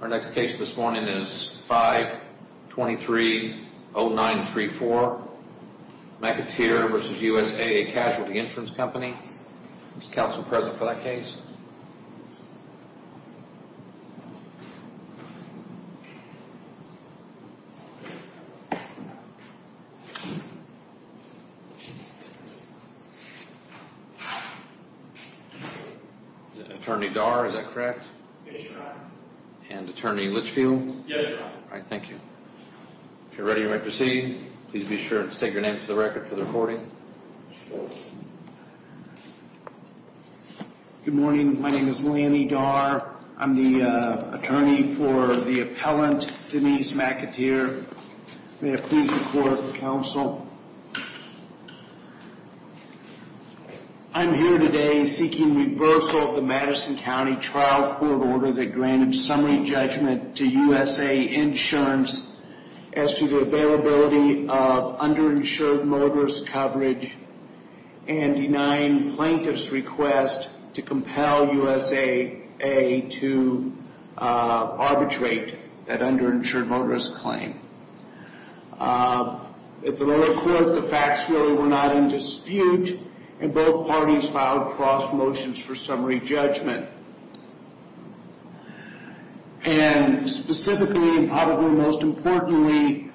Our next case this morning is 523-0934 McAteer v. USAA Casualty Insurance Company. Is counsel present for that case? Is it Attorney Darr, is that correct? Yes, your honor. And Attorney Litchfield? Yes, your honor. Alright, thank you. If you're ready, you may proceed. Please be sure to state your name for the record for the recording. Good morning, my name is Lanny Darr. I'm the attorney for the appellant, Denise McAteer. May I please report for counsel? I'm here today seeking reversal of the Madison County trial court order that granted summary judgment to USAA Insurance as to the availability of underinsured motorist coverage and denying plaintiff's request to compel USAA to arbitrate that underinsured motorist claim. At the lower court, the facts really were not in dispute and both parties filed cross motions for summary judgment. And specifically and probably most importantly,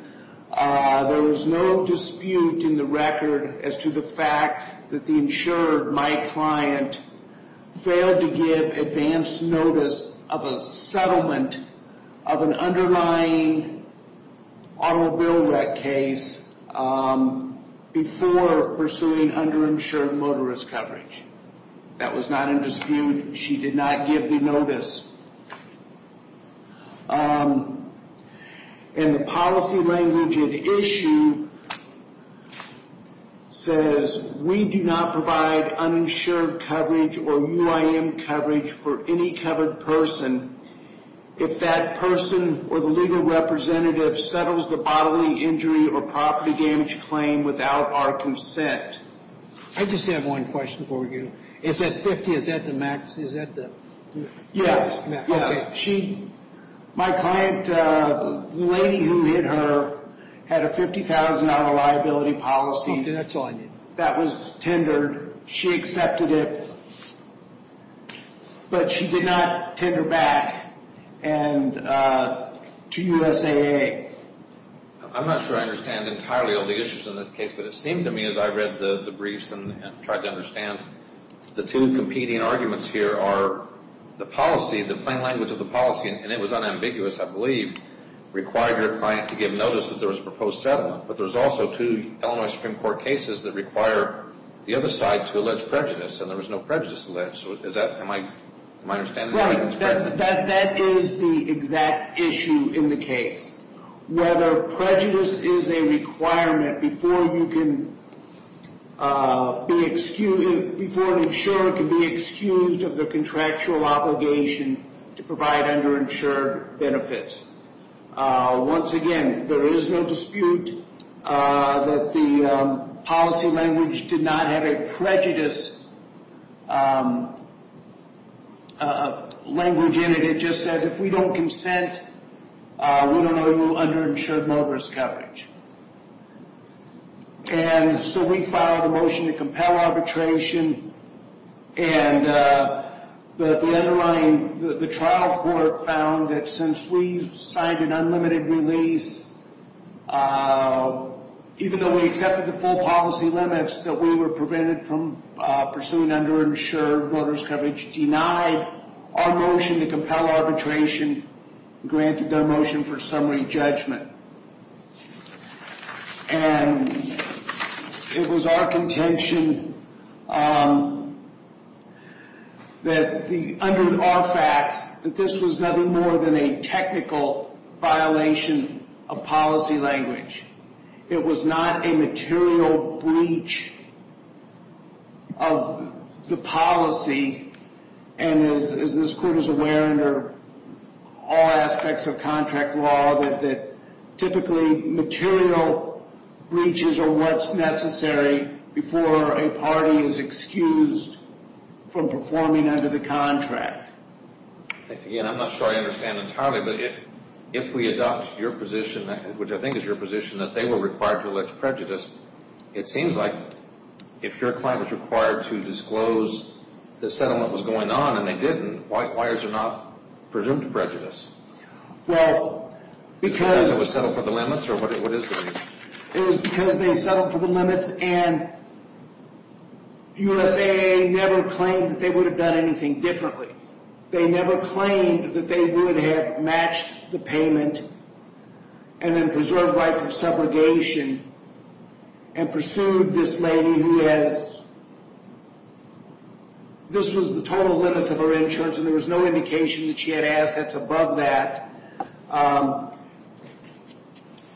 there was no dispute in the record as to the fact that the insured, my client, failed to give advance notice of a settlement of an underlying automobile wreck case before pursuing underinsured motorist coverage. That was not in dispute. She did not give the notice. And the policy language at issue says, we do not provide uninsured coverage or UIM coverage for any covered person if that person or the legal representative settles the bodily injury or property damage claim without our consent. I just have one question for you. Is that 50? Is that the max? Is that the? Yes. Okay. My client, the lady who hit her, had a $50,000 liability policy. Okay, that's all I need. That was tendered. She accepted it. But she did not tender back to USAA. I'm not sure I understand entirely all the issues in this case, but it seemed to me as I read the briefs and tried to understand, the two competing arguments here are the policy, the plain language of the policy, and it was unambiguous, I believe, required your client to give notice that there was a proposed settlement. But there's also two Illinois Supreme Court cases that require the other side to allege prejudice, and there was no prejudice alleged. So is that, am I understanding? Right. That is the exact issue in the case. Whether prejudice is a requirement before you can be excused, before an insurer can be excused of their contractual obligation to provide underinsured benefits. Once again, there is no dispute that the policy language did not have a prejudice language in it. It just said if we don't consent, we don't owe you underinsured motorist coverage. And so we filed a motion to compel arbitration, and the underlying, the trial court found that since we signed an unlimited release, even though we accepted the full policy limits that we were prevented from pursuing underinsured motorist coverage, denied our motion to compel arbitration, granted the motion for summary judgment. And it was our contention that the, under our facts, that this was nothing more than a technical violation of policy language. It was not a material breach of the policy, and as this court is aware under all aspects of contract law, that typically material breaches are what's necessary before a party is excused from performing under the contract. Again, I'm not sure I understand entirely, but if we adopt your position, which I think is your position, that they were required to allege prejudice, it seems like if your client was required to disclose the settlement was going on and they didn't, why is it not presumed prejudice? Well, because Because it was settled for the limits, or what is the reason? It was because they settled for the limits and USAA never claimed that they would have done anything differently. They never claimed that they would have matched the payment and then preserved rights of subrogation and pursued this lady who has, this was the total limits of her insurance and there was no indication that she had assets above that.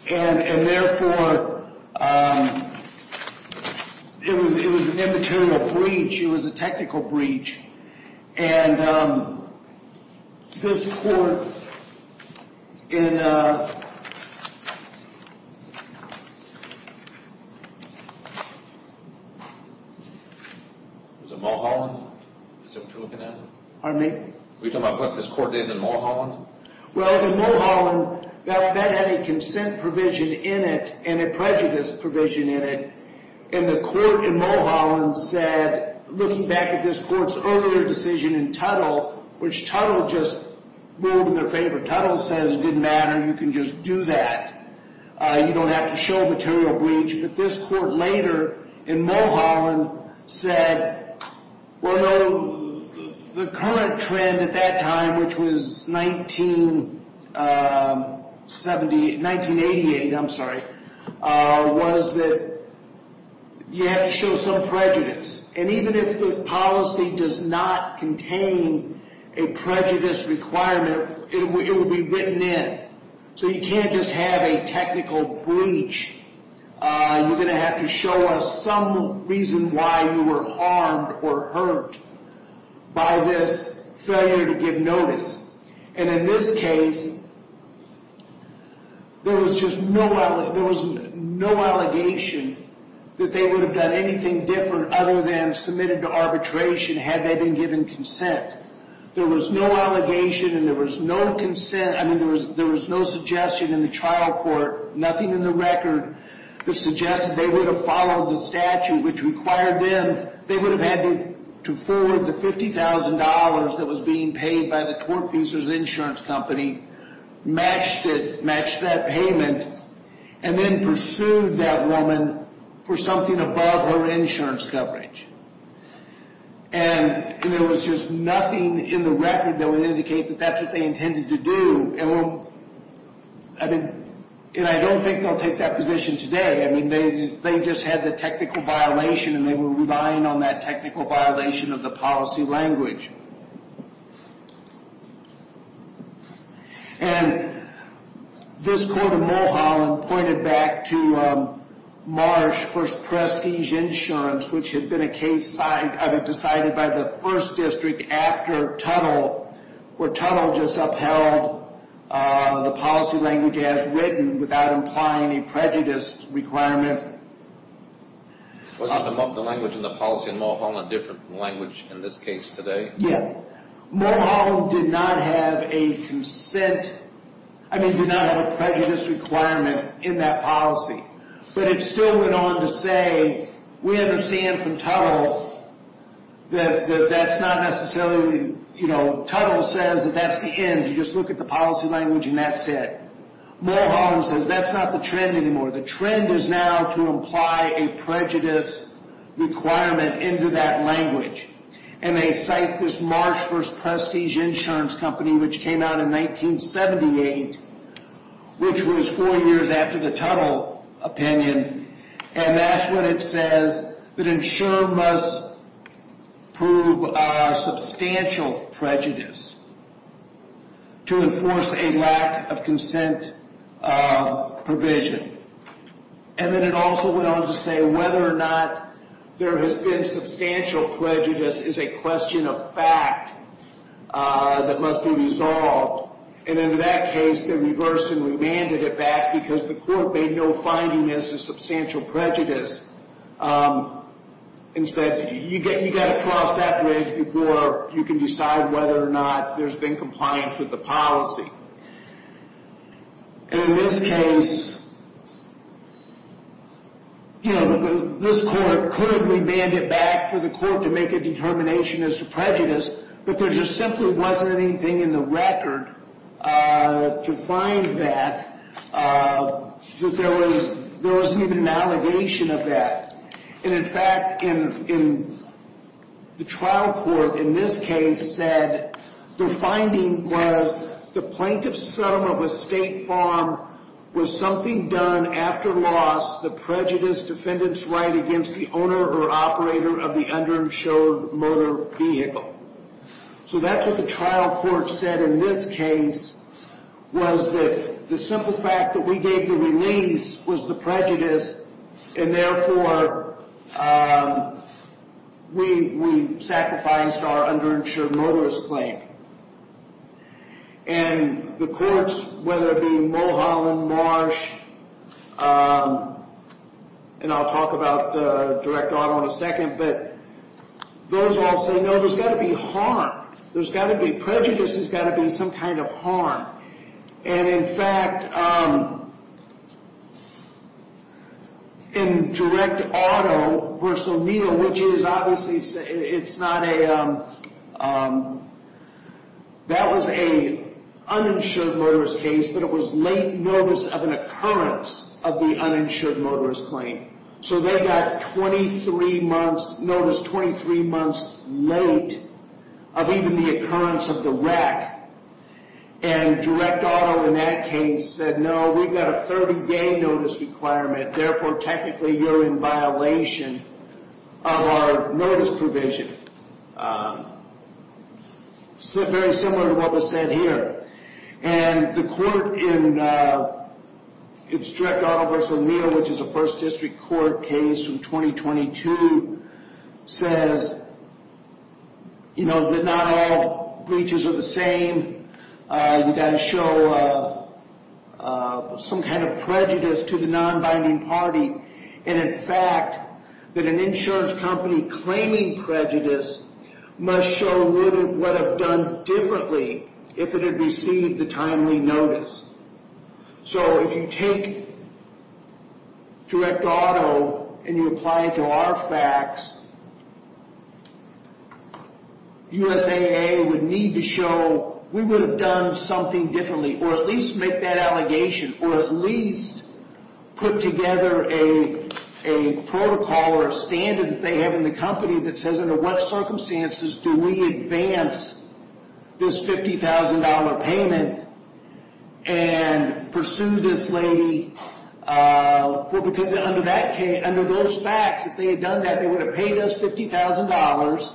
And therefore, it was an immaterial breach. It was a technical breach. And this court in Was it Mulholland? Is that what you're looking at? Pardon me? Were you talking about what this court did in Mulholland? Well, the Mulholland, that had a consent provision in it and a prejudice provision in it. And the court in Mulholland said, looking back at this court's earlier decision in Tuttle, which Tuttle just ruled in their favor, Tuttle says it didn't matter, you can just do that. You don't have to show a material breach. But this court later in Mulholland said, well, the current trend at that time, which was 1980, was that you have to show some prejudice. And even if the policy does not contain a prejudice requirement, it would be written in. So you can't just have a technical breach. You're going to have to show us some reason why you were harmed or hurt by this failure to give notice. And in this case, there was no allegation that they would have done anything different other than submitted to arbitration had they been given consent. There was no allegation and there was no consent. I mean, there was no suggestion in the trial court, nothing in the record, that suggested they would have followed the statute, which required them. They would have had to forward the $50,000 that was being paid by the tortfeasor's insurance company, matched it, matched that payment, and then pursued that woman for something above her insurance coverage. And there was just nothing in the record that would indicate that that's what they intended to do. And I don't think they'll take that position today. I mean, they just had the technical violation and they were relying on that technical violation of the policy language. And this court in Mulholland pointed back to Marsh v. Prestige Insurance, which had been a case decided by the 1st District after Tunnell, where Tunnell just upheld the policy language as written without implying any prejudice requirement. Wasn't the language in the policy in Mulholland different from the language in this case today? Yeah. Mulholland did not have a consent, I mean, did not have a prejudice requirement in that policy. But it still went on to say, we understand from Tunnell that that's not necessarily, you know, Tunnell says that that's the end. You just look at the policy language and that's it. Mulholland says that's not the trend anymore. The trend is now to imply a prejudice requirement into that language. And they cite this Marsh v. Prestige Insurance Company, which came out in 1978, which was four years after the Tunnell opinion. And that's when it says that insurer must prove substantial prejudice to enforce a lack of consent provision. And then it also went on to say whether or not there has been substantial prejudice is a question of fact that must be resolved. And in that case, they reversed and remanded it back because the court made no finding as to substantial prejudice. And said, you've got to cross that bridge before you can decide whether or not there's been compliance with the policy. And in this case, you know, this court couldn't remand it back for the court to make a determination as to prejudice. But there just simply wasn't anything in the record to find that. There wasn't even an allegation of that. And in fact, the trial court in this case said the finding was the plaintiff's sum of estate farm was something done after loss. The prejudice defendant's right against the owner or operator of the underinsured motor vehicle. So that's what the trial court said in this case was that the simple fact that we gave the release was the prejudice. And therefore, we sacrificed our underinsured motorist claim. And the courts, whether it be Mulholland, Marsh, and I'll talk about direct auto in a second. But those all say, no, there's got to be harm. There's got to be prejudice. And in fact, in direct auto versus O'Neill, which is obviously it's not a, that was a uninsured motorist case. But it was late notice of an occurrence of the uninsured motorist claim. So they got 23 months notice, 23 months late of even the occurrence of the wreck. And direct auto in that case said, no, we've got a 30-day notice requirement. Therefore, technically, you're in violation of our notice provision. Very similar to what was said here. And the court in its direct auto versus O'Neill, which is a first district court case from 2022, says that not all breaches are the same. You've got to show some kind of prejudice to the non-binding party. And in fact, that an insurance company claiming prejudice must show what it would have done differently if it had received the timely notice. So if you take direct auto and you apply it to our facts, USAA would need to show we would have done something differently. Or at least make that allegation. Or at least put together a protocol or a standard that they have in the company that says under what circumstances do we advance this $50,000 payment. And pursue this lady, because under those facts, if they had done that, they would have paid us $50,000.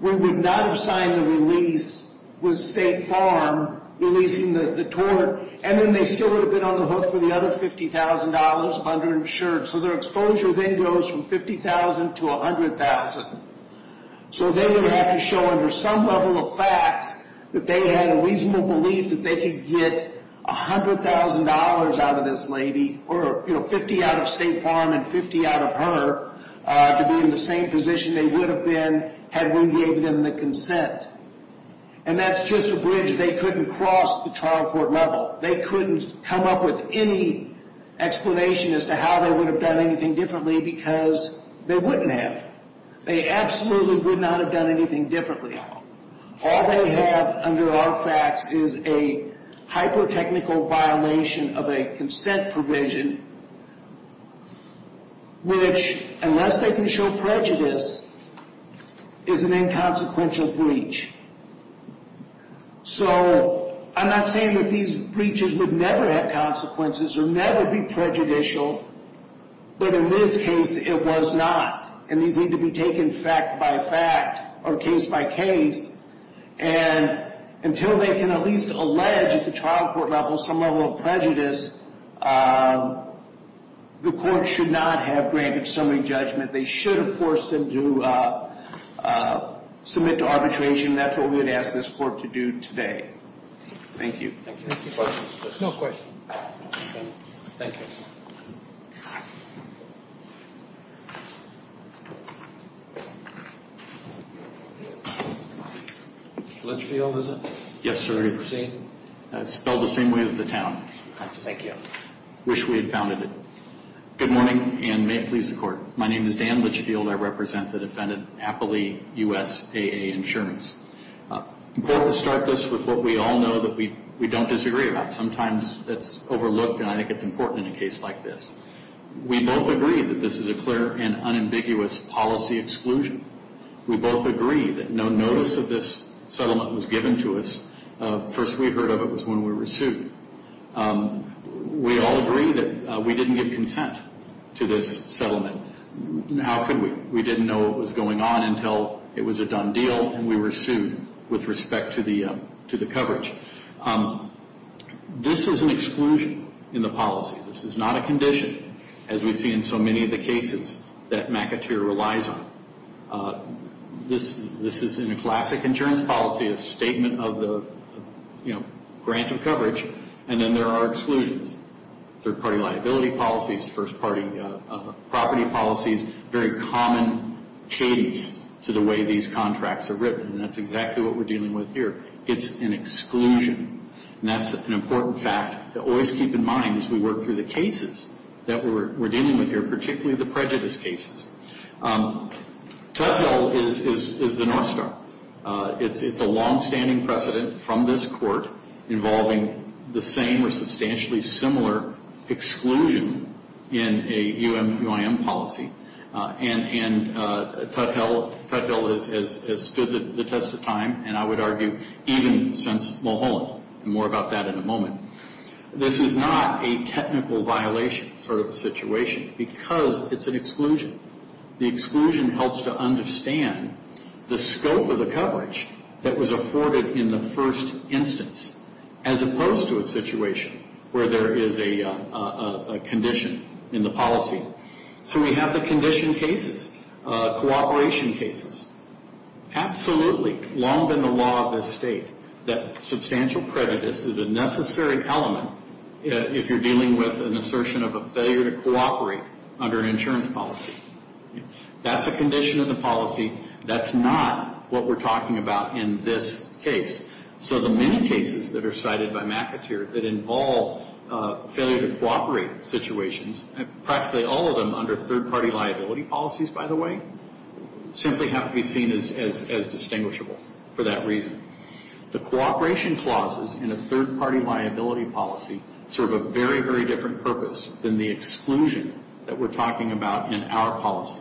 We would not have signed the release with State Farm releasing the tort. And then they still would have been on the hook for the other $50,000 under insurance. So their exposure then goes from $50,000 to $100,000. So they would have to show under some level of facts that they had a reasonable belief that they could get $100,000 out of this lady. Or $50,000 out of State Farm and $50,000 out of her to be in the same position they would have been had we gave them the consent. And that's just a bridge they couldn't cross at the trial court level. They couldn't come up with any explanation as to how they would have done anything differently because they wouldn't have. They absolutely would not have done anything differently. All they have under our facts is a hyper-technical violation of a consent provision. Which, unless they can show prejudice, is an inconsequential breach. So I'm not saying that these breaches would never have consequences or never be prejudicial. But in this case, it was not. And these need to be taken fact by fact or case by case. And until they can at least allege at the trial court level some level of prejudice, the court should not have granted summary judgment. They should have forced them to submit to arbitration. That's what we would ask this court to do today. Thank you. Any questions? No questions. Thank you. Litchfield, is it? Yes, sir. It's spelled the same way as the town. Thank you. Wish we had founded it. Good morning, and may it please the Court. My name is Dan Litchfield. I represent the defendant, Appley USAA Insurance. It's important to start this with what we all know that we don't disagree about. Sometimes that's overlooked, and I think it's important in a case like this. We both agree that this is a clear and unambiguous policy exclusion. We both agree that no notice of this settlement was given to us. The first we heard of it was when we were sued. We all agree that we didn't give consent to this settlement. How could we? We didn't know what was going on until it was a done deal, and we were sued with respect to the coverage. This is an exclusion in the policy. This is not a condition, as we see in so many of the cases that McAteer relies on. This is a classic insurance policy, a statement of the grant of coverage, and then there are exclusions, third-party liability policies, first-party property policies, very common cadence to the way these contracts are written, and that's exactly what we're dealing with here. It's an exclusion, and that's an important fact to always keep in mind as we work through the cases that we're dealing with here, particularly the prejudice cases. Tudhill is the north star. It's a longstanding precedent from this court involving the same or substantially similar exclusion in a UIM policy, and Tudhill has stood the test of time, and I would argue even since Mulholland, and more about that in a moment. This is not a technical violation sort of situation because it's an exclusion. The exclusion helps to understand the scope of the coverage that was afforded in the first instance, as opposed to a situation where there is a condition in the policy. So we have the condition cases, cooperation cases. Absolutely, long been the law of this state that substantial prejudice is a necessary element if you're dealing with an assertion of a failure to cooperate under an insurance policy. That's a condition in the policy. That's not what we're talking about in this case. So the many cases that are cited by McAteer that involve failure to cooperate situations, practically all of them under third-party liability policies, by the way, simply have to be seen as distinguishable for that reason. The cooperation clauses in a third-party liability policy serve a very, very different purpose than the exclusion that we're talking about in our policy.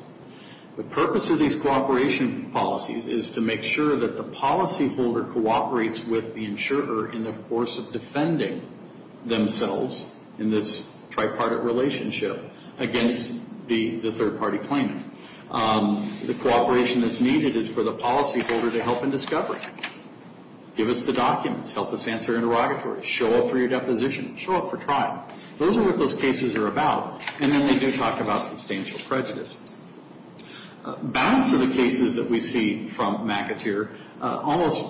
The purpose of these cooperation policies is to make sure that the policyholder cooperates with the insurer in the course of defending themselves in this tripartite relationship against the third-party claimant. The cooperation that's needed is for the policyholder to help in discovery. Give us the documents. Help us answer interrogatories. Show up for your deposition. Show up for trial. Those are what those cases are about. And then we do talk about substantial prejudice. Balance of the cases that we see from McAteer almost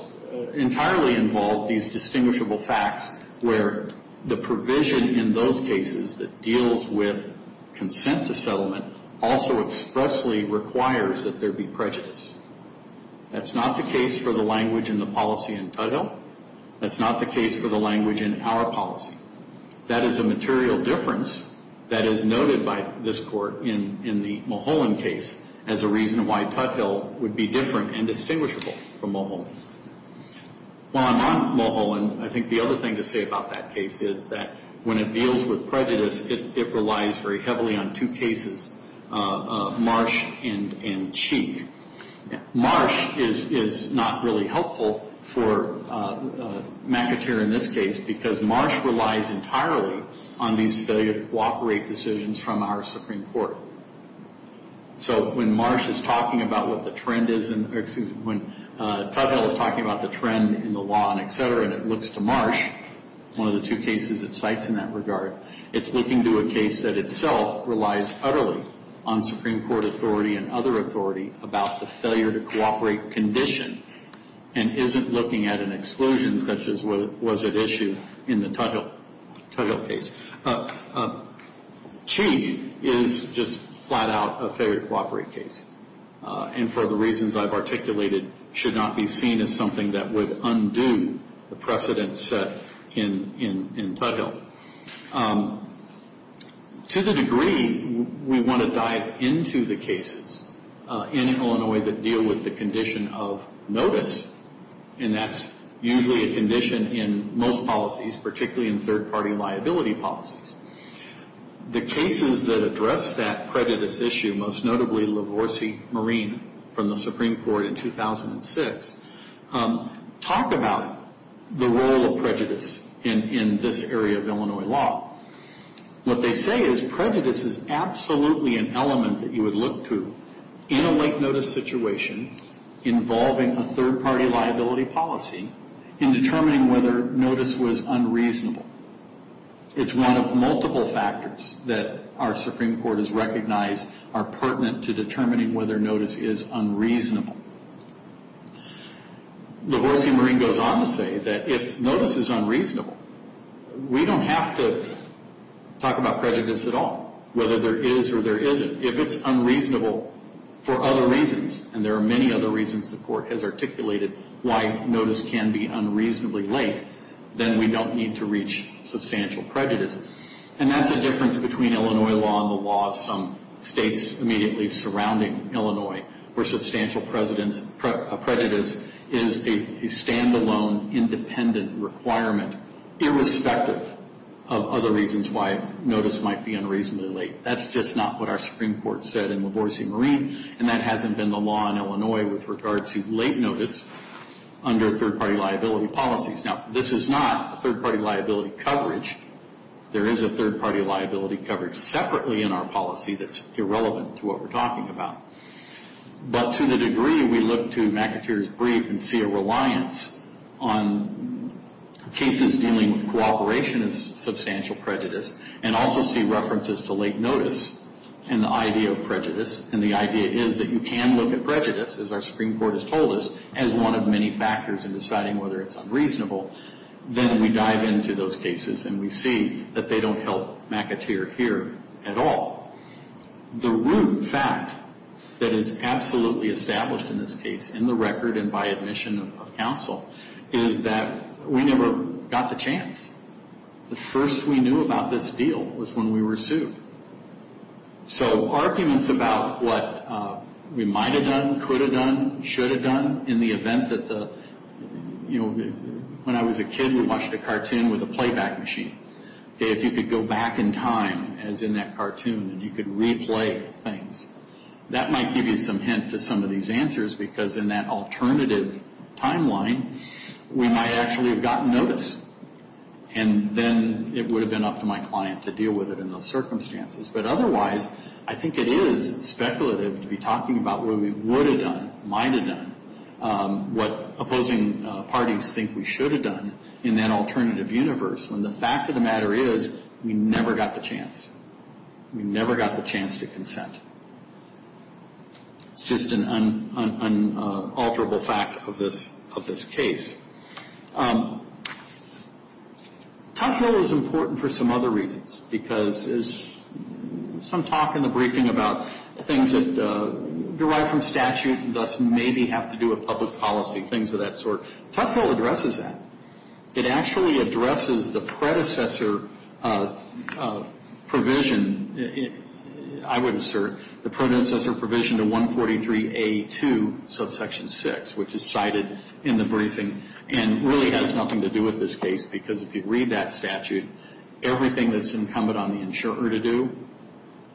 entirely involve these distinguishable facts where the provision in those cases that deals with consent to settlement also expressly requires that there be prejudice. That's not the case for the language in the policy in total. That's not the case for the language in our policy. That is a material difference that is noted by this Court in the Mulholland case as a reason why Tuthill would be different and distinguishable from Mulholland. While I'm on Mulholland, I think the other thing to say about that case is that when it deals with prejudice, it relies very heavily on two cases, Marsh and Cheek. Marsh is not really helpful for McAteer in this case because Marsh relies entirely on these failure to cooperate decisions from our Supreme Court. So when Marsh is talking about what the trend is, when Tuthill is talking about the trend in the law and et cetera, and it looks to Marsh, one of the two cases it cites in that regard, it's looking to a case that itself relies utterly on Supreme Court authority and other authority about the failure to cooperate condition and isn't looking at an exclusion such as was at issue in the Tuthill case. Cheek is just flat out a failure to cooperate case and for the reasons I've articulated should not be seen as something that would undo the precedent set in Tuthill. To the degree we want to dive into the cases in Illinois that deal with the condition of notice, and that's usually a condition in most policies, particularly in third-party liability policies. The cases that address that prejudice issue, most notably Lavorsi-Marine from the Supreme Court in 2006, talk about the role of prejudice in this area of Illinois law. What they say is prejudice is absolutely an element that you would look to in a late notice situation involving a third-party liability policy in determining whether notice was unreasonable. It's one of multiple factors that our Supreme Court has recognized are pertinent to determining whether notice is unreasonable. Lavorsi-Marine goes on to say that if notice is unreasonable, we don't have to talk about prejudice at all, whether there is or there isn't. If it's unreasonable for other reasons, and there are many other reasons the Court has articulated why notice can be unreasonably late, then we don't need to reach substantial prejudice. And that's a difference between Illinois law and the law of some states immediately surrounding Illinois where substantial prejudice is a stand-alone, independent requirement irrespective of other reasons why notice might be unreasonably late. That's just not what our Supreme Court said in Lavorsi-Marine, and that hasn't been the law in Illinois with regard to late notice under third-party liability policies. Now, this is not a third-party liability coverage. There is a third-party liability coverage separately in our policy that's irrelevant to what we're talking about. But to the degree we look to McAteer's brief and see a reliance on cases dealing with cooperation as substantial prejudice and also see references to late notice and the idea of prejudice, and the idea is that you can look at prejudice, as our Supreme Court has told us, as one of many factors in deciding whether it's unreasonable, then we dive into those cases and we see that they don't help McAteer here at all. The root fact that is absolutely established in this case in the record and by admission of counsel is that we never got the chance. The first we knew about this deal was when we were sued. So arguments about what we might have done, could have done, should have done, in the event that the, you know, when I was a kid we watched a cartoon with a playback machine. If you could go back in time, as in that cartoon, and you could replay things, that might give you some hint to some of these answers because in that alternative timeline we might actually have gotten notice and then it would have been up to my client to deal with it in those circumstances. But otherwise, I think it is speculative to be talking about what we would have done, might have done, what opposing parties think we should have done in that alternative universe when the fact of the matter is we never got the chance. We never got the chance to consent. It's just an unalterable fact of this case. Tuck Hill is important for some other reasons because there's some talk in the briefing about things that derive from statute and thus maybe have to do with public policy, things of that sort. Tuck Hill addresses that. It actually addresses the predecessor provision, I would assert, the predecessor provision to 143A2 subsection 6, which is cited in the briefing and really has nothing to do with this case because if you read that statute, everything that's incumbent on the insurer to do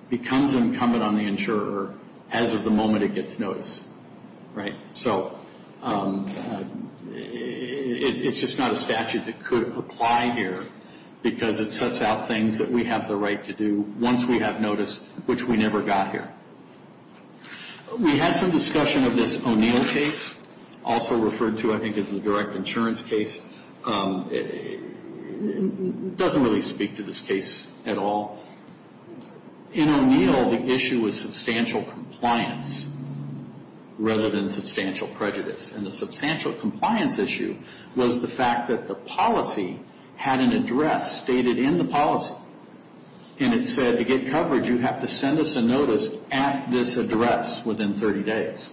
becomes incumbent on the insurer as of the moment it gets notice, right? So it's just not a statute that could apply here because it sets out things that we have the right to do once we have notice, which we never got here. We had some discussion of this O'Neill case, also referred to, I think, as the direct insurance case. It doesn't really speak to this case at all. In O'Neill, the issue was substantial compliance rather than substantial prejudice, and the substantial compliance issue was the fact that the policy had an address stated in the policy, and it said to get coverage, you have to send us a notice at this address within 30 days.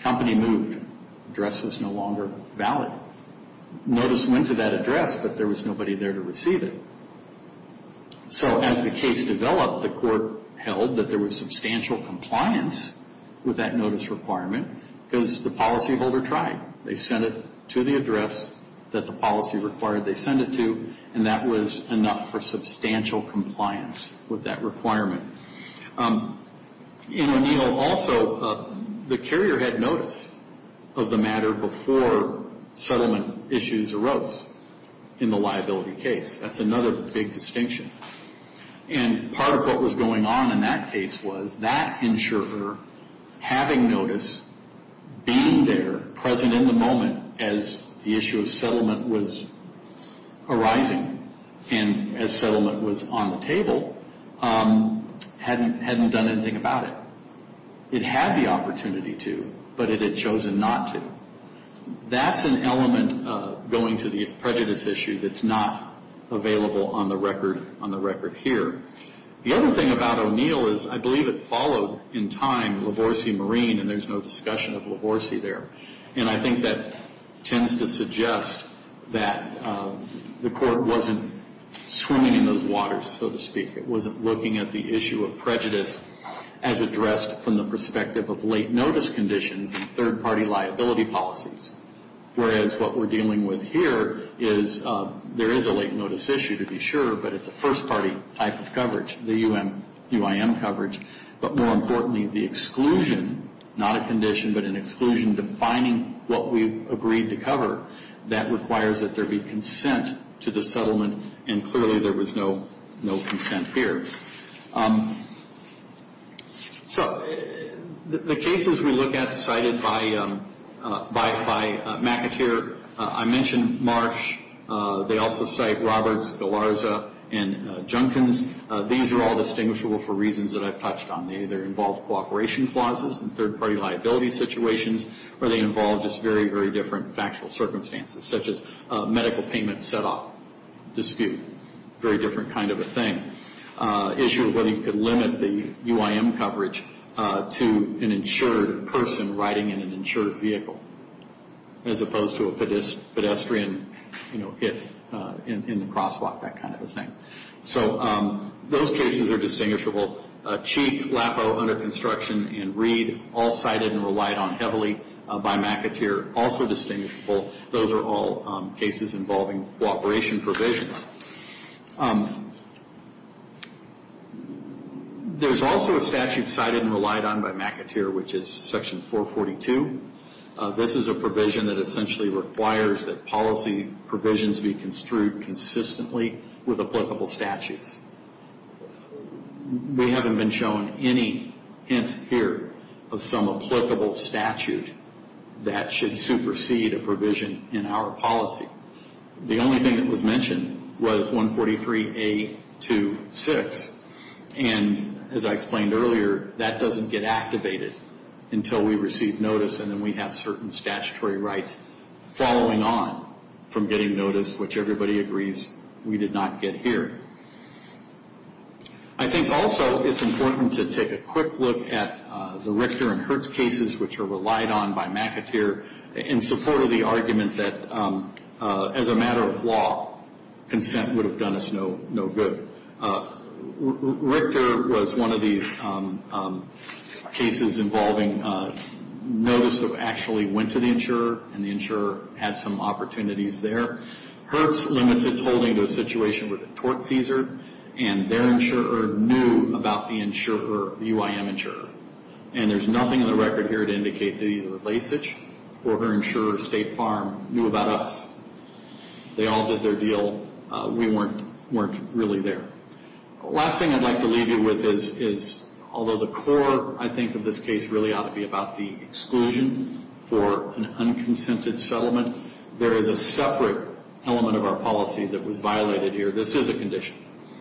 Company moved. Address was no longer valid. Notice went to that address, but there was nobody there to receive it. So as the case developed, the court held that there was substantial compliance with that notice requirement because the policyholder tried. They sent it to the address that the policy required they send it to, and that was enough for substantial compliance with that requirement. In O'Neill also, the carrier had notice of the matter before settlement issues arose in the liability case. That's another big distinction. And part of what was going on in that case was that insurer, having notice, being there present in the moment as the issue of settlement was arising and as settlement was on the table, hadn't done anything about it. It had the opportunity to, but it had chosen not to. That's an element going to the prejudice issue that's not available on the record here. The other thing about O'Neill is I believe it followed in time LaVorsey Marine, and there's no discussion of LaVorsey there. And I think that tends to suggest that the court wasn't swimming in those waters, so to speak. It wasn't looking at the issue of prejudice as addressed from the perspective of late notice conditions and third-party liability policies. Whereas what we're dealing with here is there is a late notice issue to be sure, but it's a first-party type of coverage, the UIM coverage. But more importantly, the exclusion, not a condition but an exclusion, defining what we agreed to cover, that requires that there be consent to the settlement, and clearly there was no consent here. So the cases we look at cited by McAteer, I mentioned Marsh. They also cite Roberts, Galarza, and Junkins. These are all distinguishable for reasons that I've touched on. They either involve cooperation clauses in third-party liability situations, or they involve just very, very different factual circumstances, such as medical payment set-off dispute, very different kind of a thing. Issue of whether you could limit the UIM coverage to an insured person riding in an insured vehicle, as opposed to a pedestrian hit in the crosswalk, that kind of a thing. So those cases are distinguishable. Cheek, Lappow, Under Construction, and Reed all cited and relied on heavily by McAteer, also distinguishable. Those are all cases involving cooperation provisions. There's also a statute cited and relied on by McAteer, which is Section 442. This is a provision that essentially requires that policy provisions be construed consistently with applicable statutes. We haven't been shown any hint here of some applicable statute that should supersede a provision in our policy. The only thing that was mentioned was 143A26. And as I explained earlier, that doesn't get activated until we receive notice and then we have certain statutory rights following on from getting notice, which everybody agrees we did not get here. I think also it's important to take a quick look at the Richter and Hertz cases, which are relied on by McAteer in support of the argument that, as a matter of law, consent would have done us no good. Richter was one of these cases involving notice that actually went to the insurer and the insurer had some opportunities there. Hertz limits its holding to a situation with a torque teaser, and their insurer knew about the insurer, the UIM insurer. And there's nothing in the record here to indicate that either Lasich or her insurer, State Farm, knew about us. They all did their deal. We weren't really there. The last thing I'd like to leave you with is, although the core, I think, of this case really ought to be about the exclusion for an unconsented settlement, there is a separate element of our policy that was violated here. This is a condition,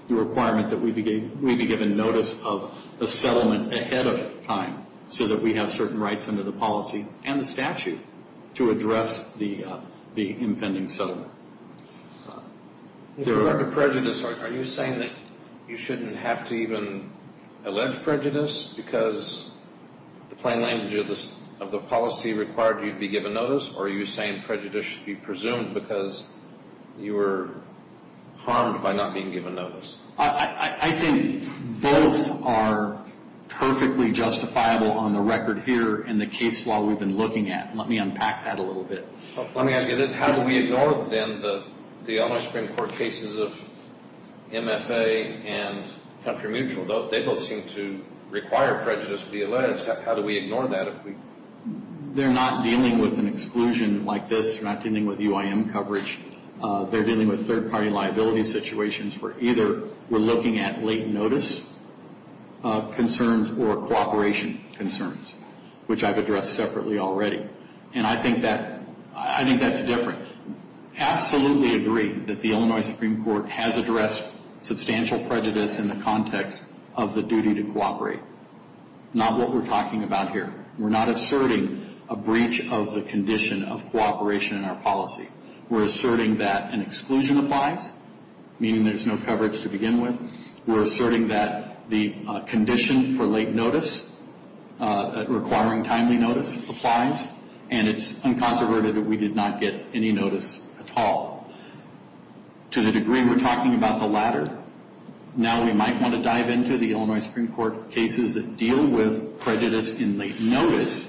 the requirement that we be given notice of a settlement ahead of time so that we have certain rights under the policy and the statute to address the impending settlement. In regard to prejudice, are you saying that you shouldn't have to even allege prejudice because the plain language of the policy required you to be given notice, or are you saying prejudice should be presumed because you were harmed by not being given notice? I think both are perfectly justifiable on the record here in the case law we've been looking at. Let me unpack that a little bit. How do we ignore, then, the Illinois Supreme Court cases of MFA and Country Mutual? They both seem to require prejudice to be alleged. How do we ignore that? They're not dealing with an exclusion like this. They're not dealing with UIM coverage. They're dealing with third-party liability situations where either we're looking at late notice concerns or cooperation concerns, which I've addressed separately already. And I think that's different. I absolutely agree that the Illinois Supreme Court has addressed substantial prejudice in the context of the duty to cooperate, not what we're talking about here. We're not asserting a breach of the condition of cooperation in our policy. We're asserting that an exclusion applies, meaning there's no coverage to begin with. We're asserting that the condition for late notice, requiring timely notice, applies, and it's uncontroverted that we did not get any notice at all. To the degree we're talking about the latter, now we might want to dive into the Illinois Supreme Court cases that deal with prejudice in late notice,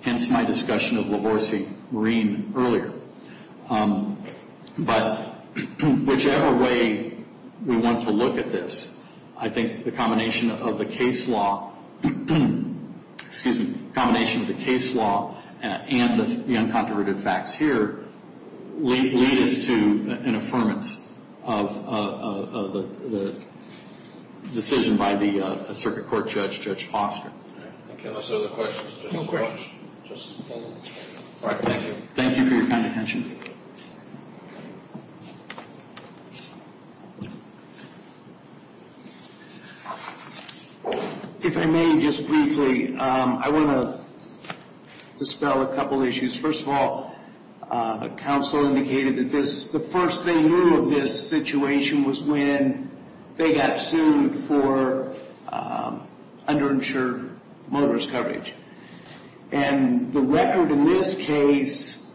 hence my discussion of Lavorsi-Reen earlier. But whichever way we want to look at this, I think the combination of the case law and the uncontroverted facts here lead us to an affirmance of the decision by the circuit court judge, Judge Foster. Thank you. Any other questions? No questions. All right. Thank you. Thank you for your kind attention. If I may just briefly, I want to dispel a couple of issues. First of all, counsel indicated that the first they knew of this situation was when they got sued for underinsured motorist coverage. And the record in this case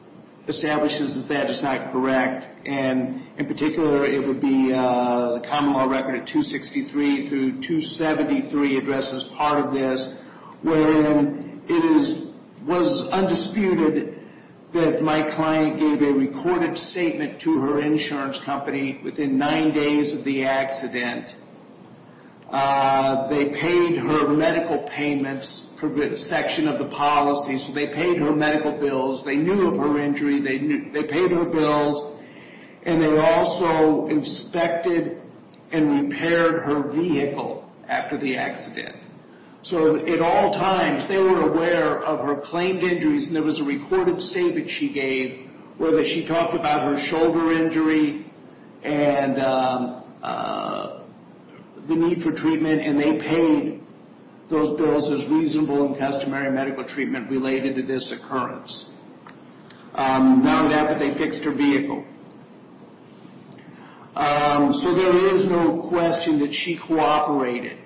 establishes that that is not correct, and in particular it would be the common law record of 263 through 273 addresses part of this, when it was undisputed that my client gave a recorded statement to her insurance company within nine days of the accident. They paid her medical payments for a good section of the policy, so they paid her medical bills. They knew of her injury. They paid her bills, and they also inspected and repaired her vehicle after the accident. So at all times, they were aware of her claimed injuries, and there was a recorded statement she gave where she talked about her shoulder injury and the need for treatment, and they paid those bills as reasonable and customary medical treatment related to this occurrence. Not only that, but they fixed her vehicle. So there is no question that she cooperated.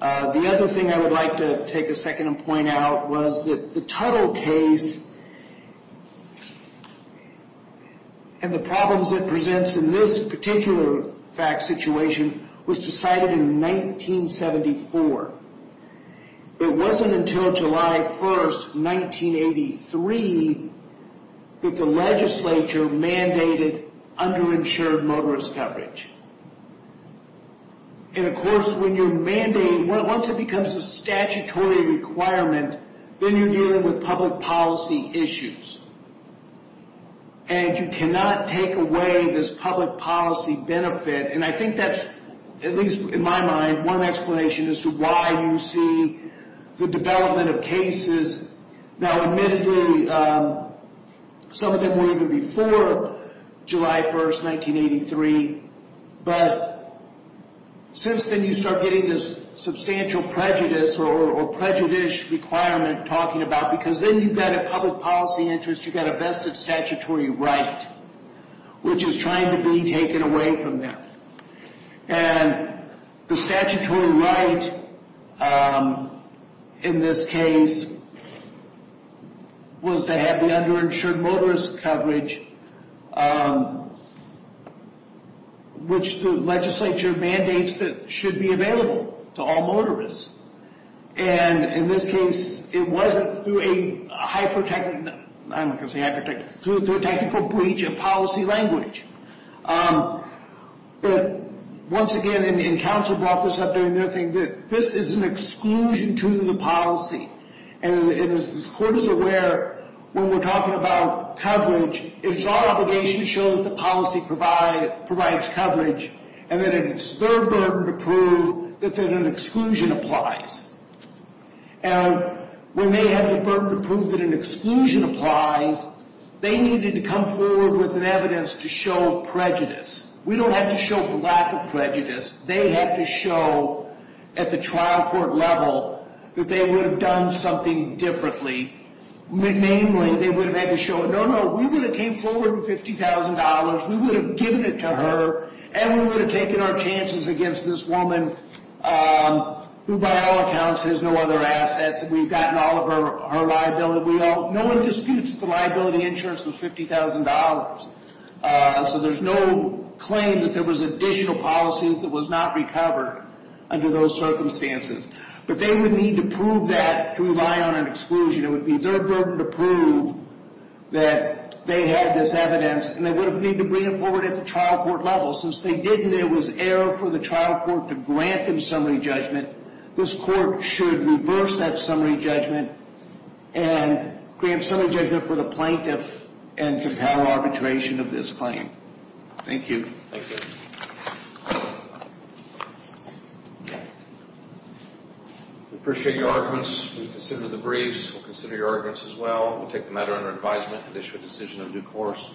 The other thing I would like to take a second and point out was that the Tuttle case and the problems it presents in this particular fact situation was decided in 1974. It wasn't until July 1, 1983, that the legislature mandated underinsured motorist coverage. And, of course, when you mandate, once it becomes a statutory requirement, then you're dealing with public policy issues, and you cannot take away this public policy benefit, and I think that's, at least in my mind, one explanation as to why you see the development of cases. Now, admittedly, some of them were even before July 1, 1983, but since then you start getting this substantial prejudice or prejudice requirement talking about, because then you've got a public policy interest, you've got a vested statutory right, which is trying to be taken away from them. And the statutory right in this case was to have the underinsured motorist coverage, which the legislature mandates that should be available to all motorists. And in this case, it wasn't through a hyper-technical, I'm not going to say hyper-technical, but through a technical breach of policy language. But once again, and counsel brought this up during their thing, that this is an exclusion to the policy. And as the court is aware, when we're talking about coverage, it's our obligation to show that the policy provides coverage, and that it's their burden to prove that an exclusion applies. And when they have the burden to prove that an exclusion applies, they needed to come forward with an evidence to show prejudice. We don't have to show the lack of prejudice. They have to show at the trial court level that they would have done something differently. Namely, they would have had to show, no, no, we would have came forward with $50,000, we would have given it to her, and we would have taken our chances against this woman who, by all accounts, has no other assets. We've gotten all of her liability. No one disputes that the liability insurance was $50,000. So there's no claim that there was additional policies that was not recovered under those circumstances. But they would need to prove that to rely on an exclusion. It would be their burden to prove that they had this evidence, and they would have needed to bring it forward at the trial court level. Since they didn't, it was error for the trial court to grant them summary judgment. This court should reverse that summary judgment and grant summary judgment for the plaintiff and to power arbitration of this claim. Thank you. Thank you. We appreciate your arguments. We consider the briefs. We'll consider your arguments as well. We'll take the matter under advisement and issue a decision of due course.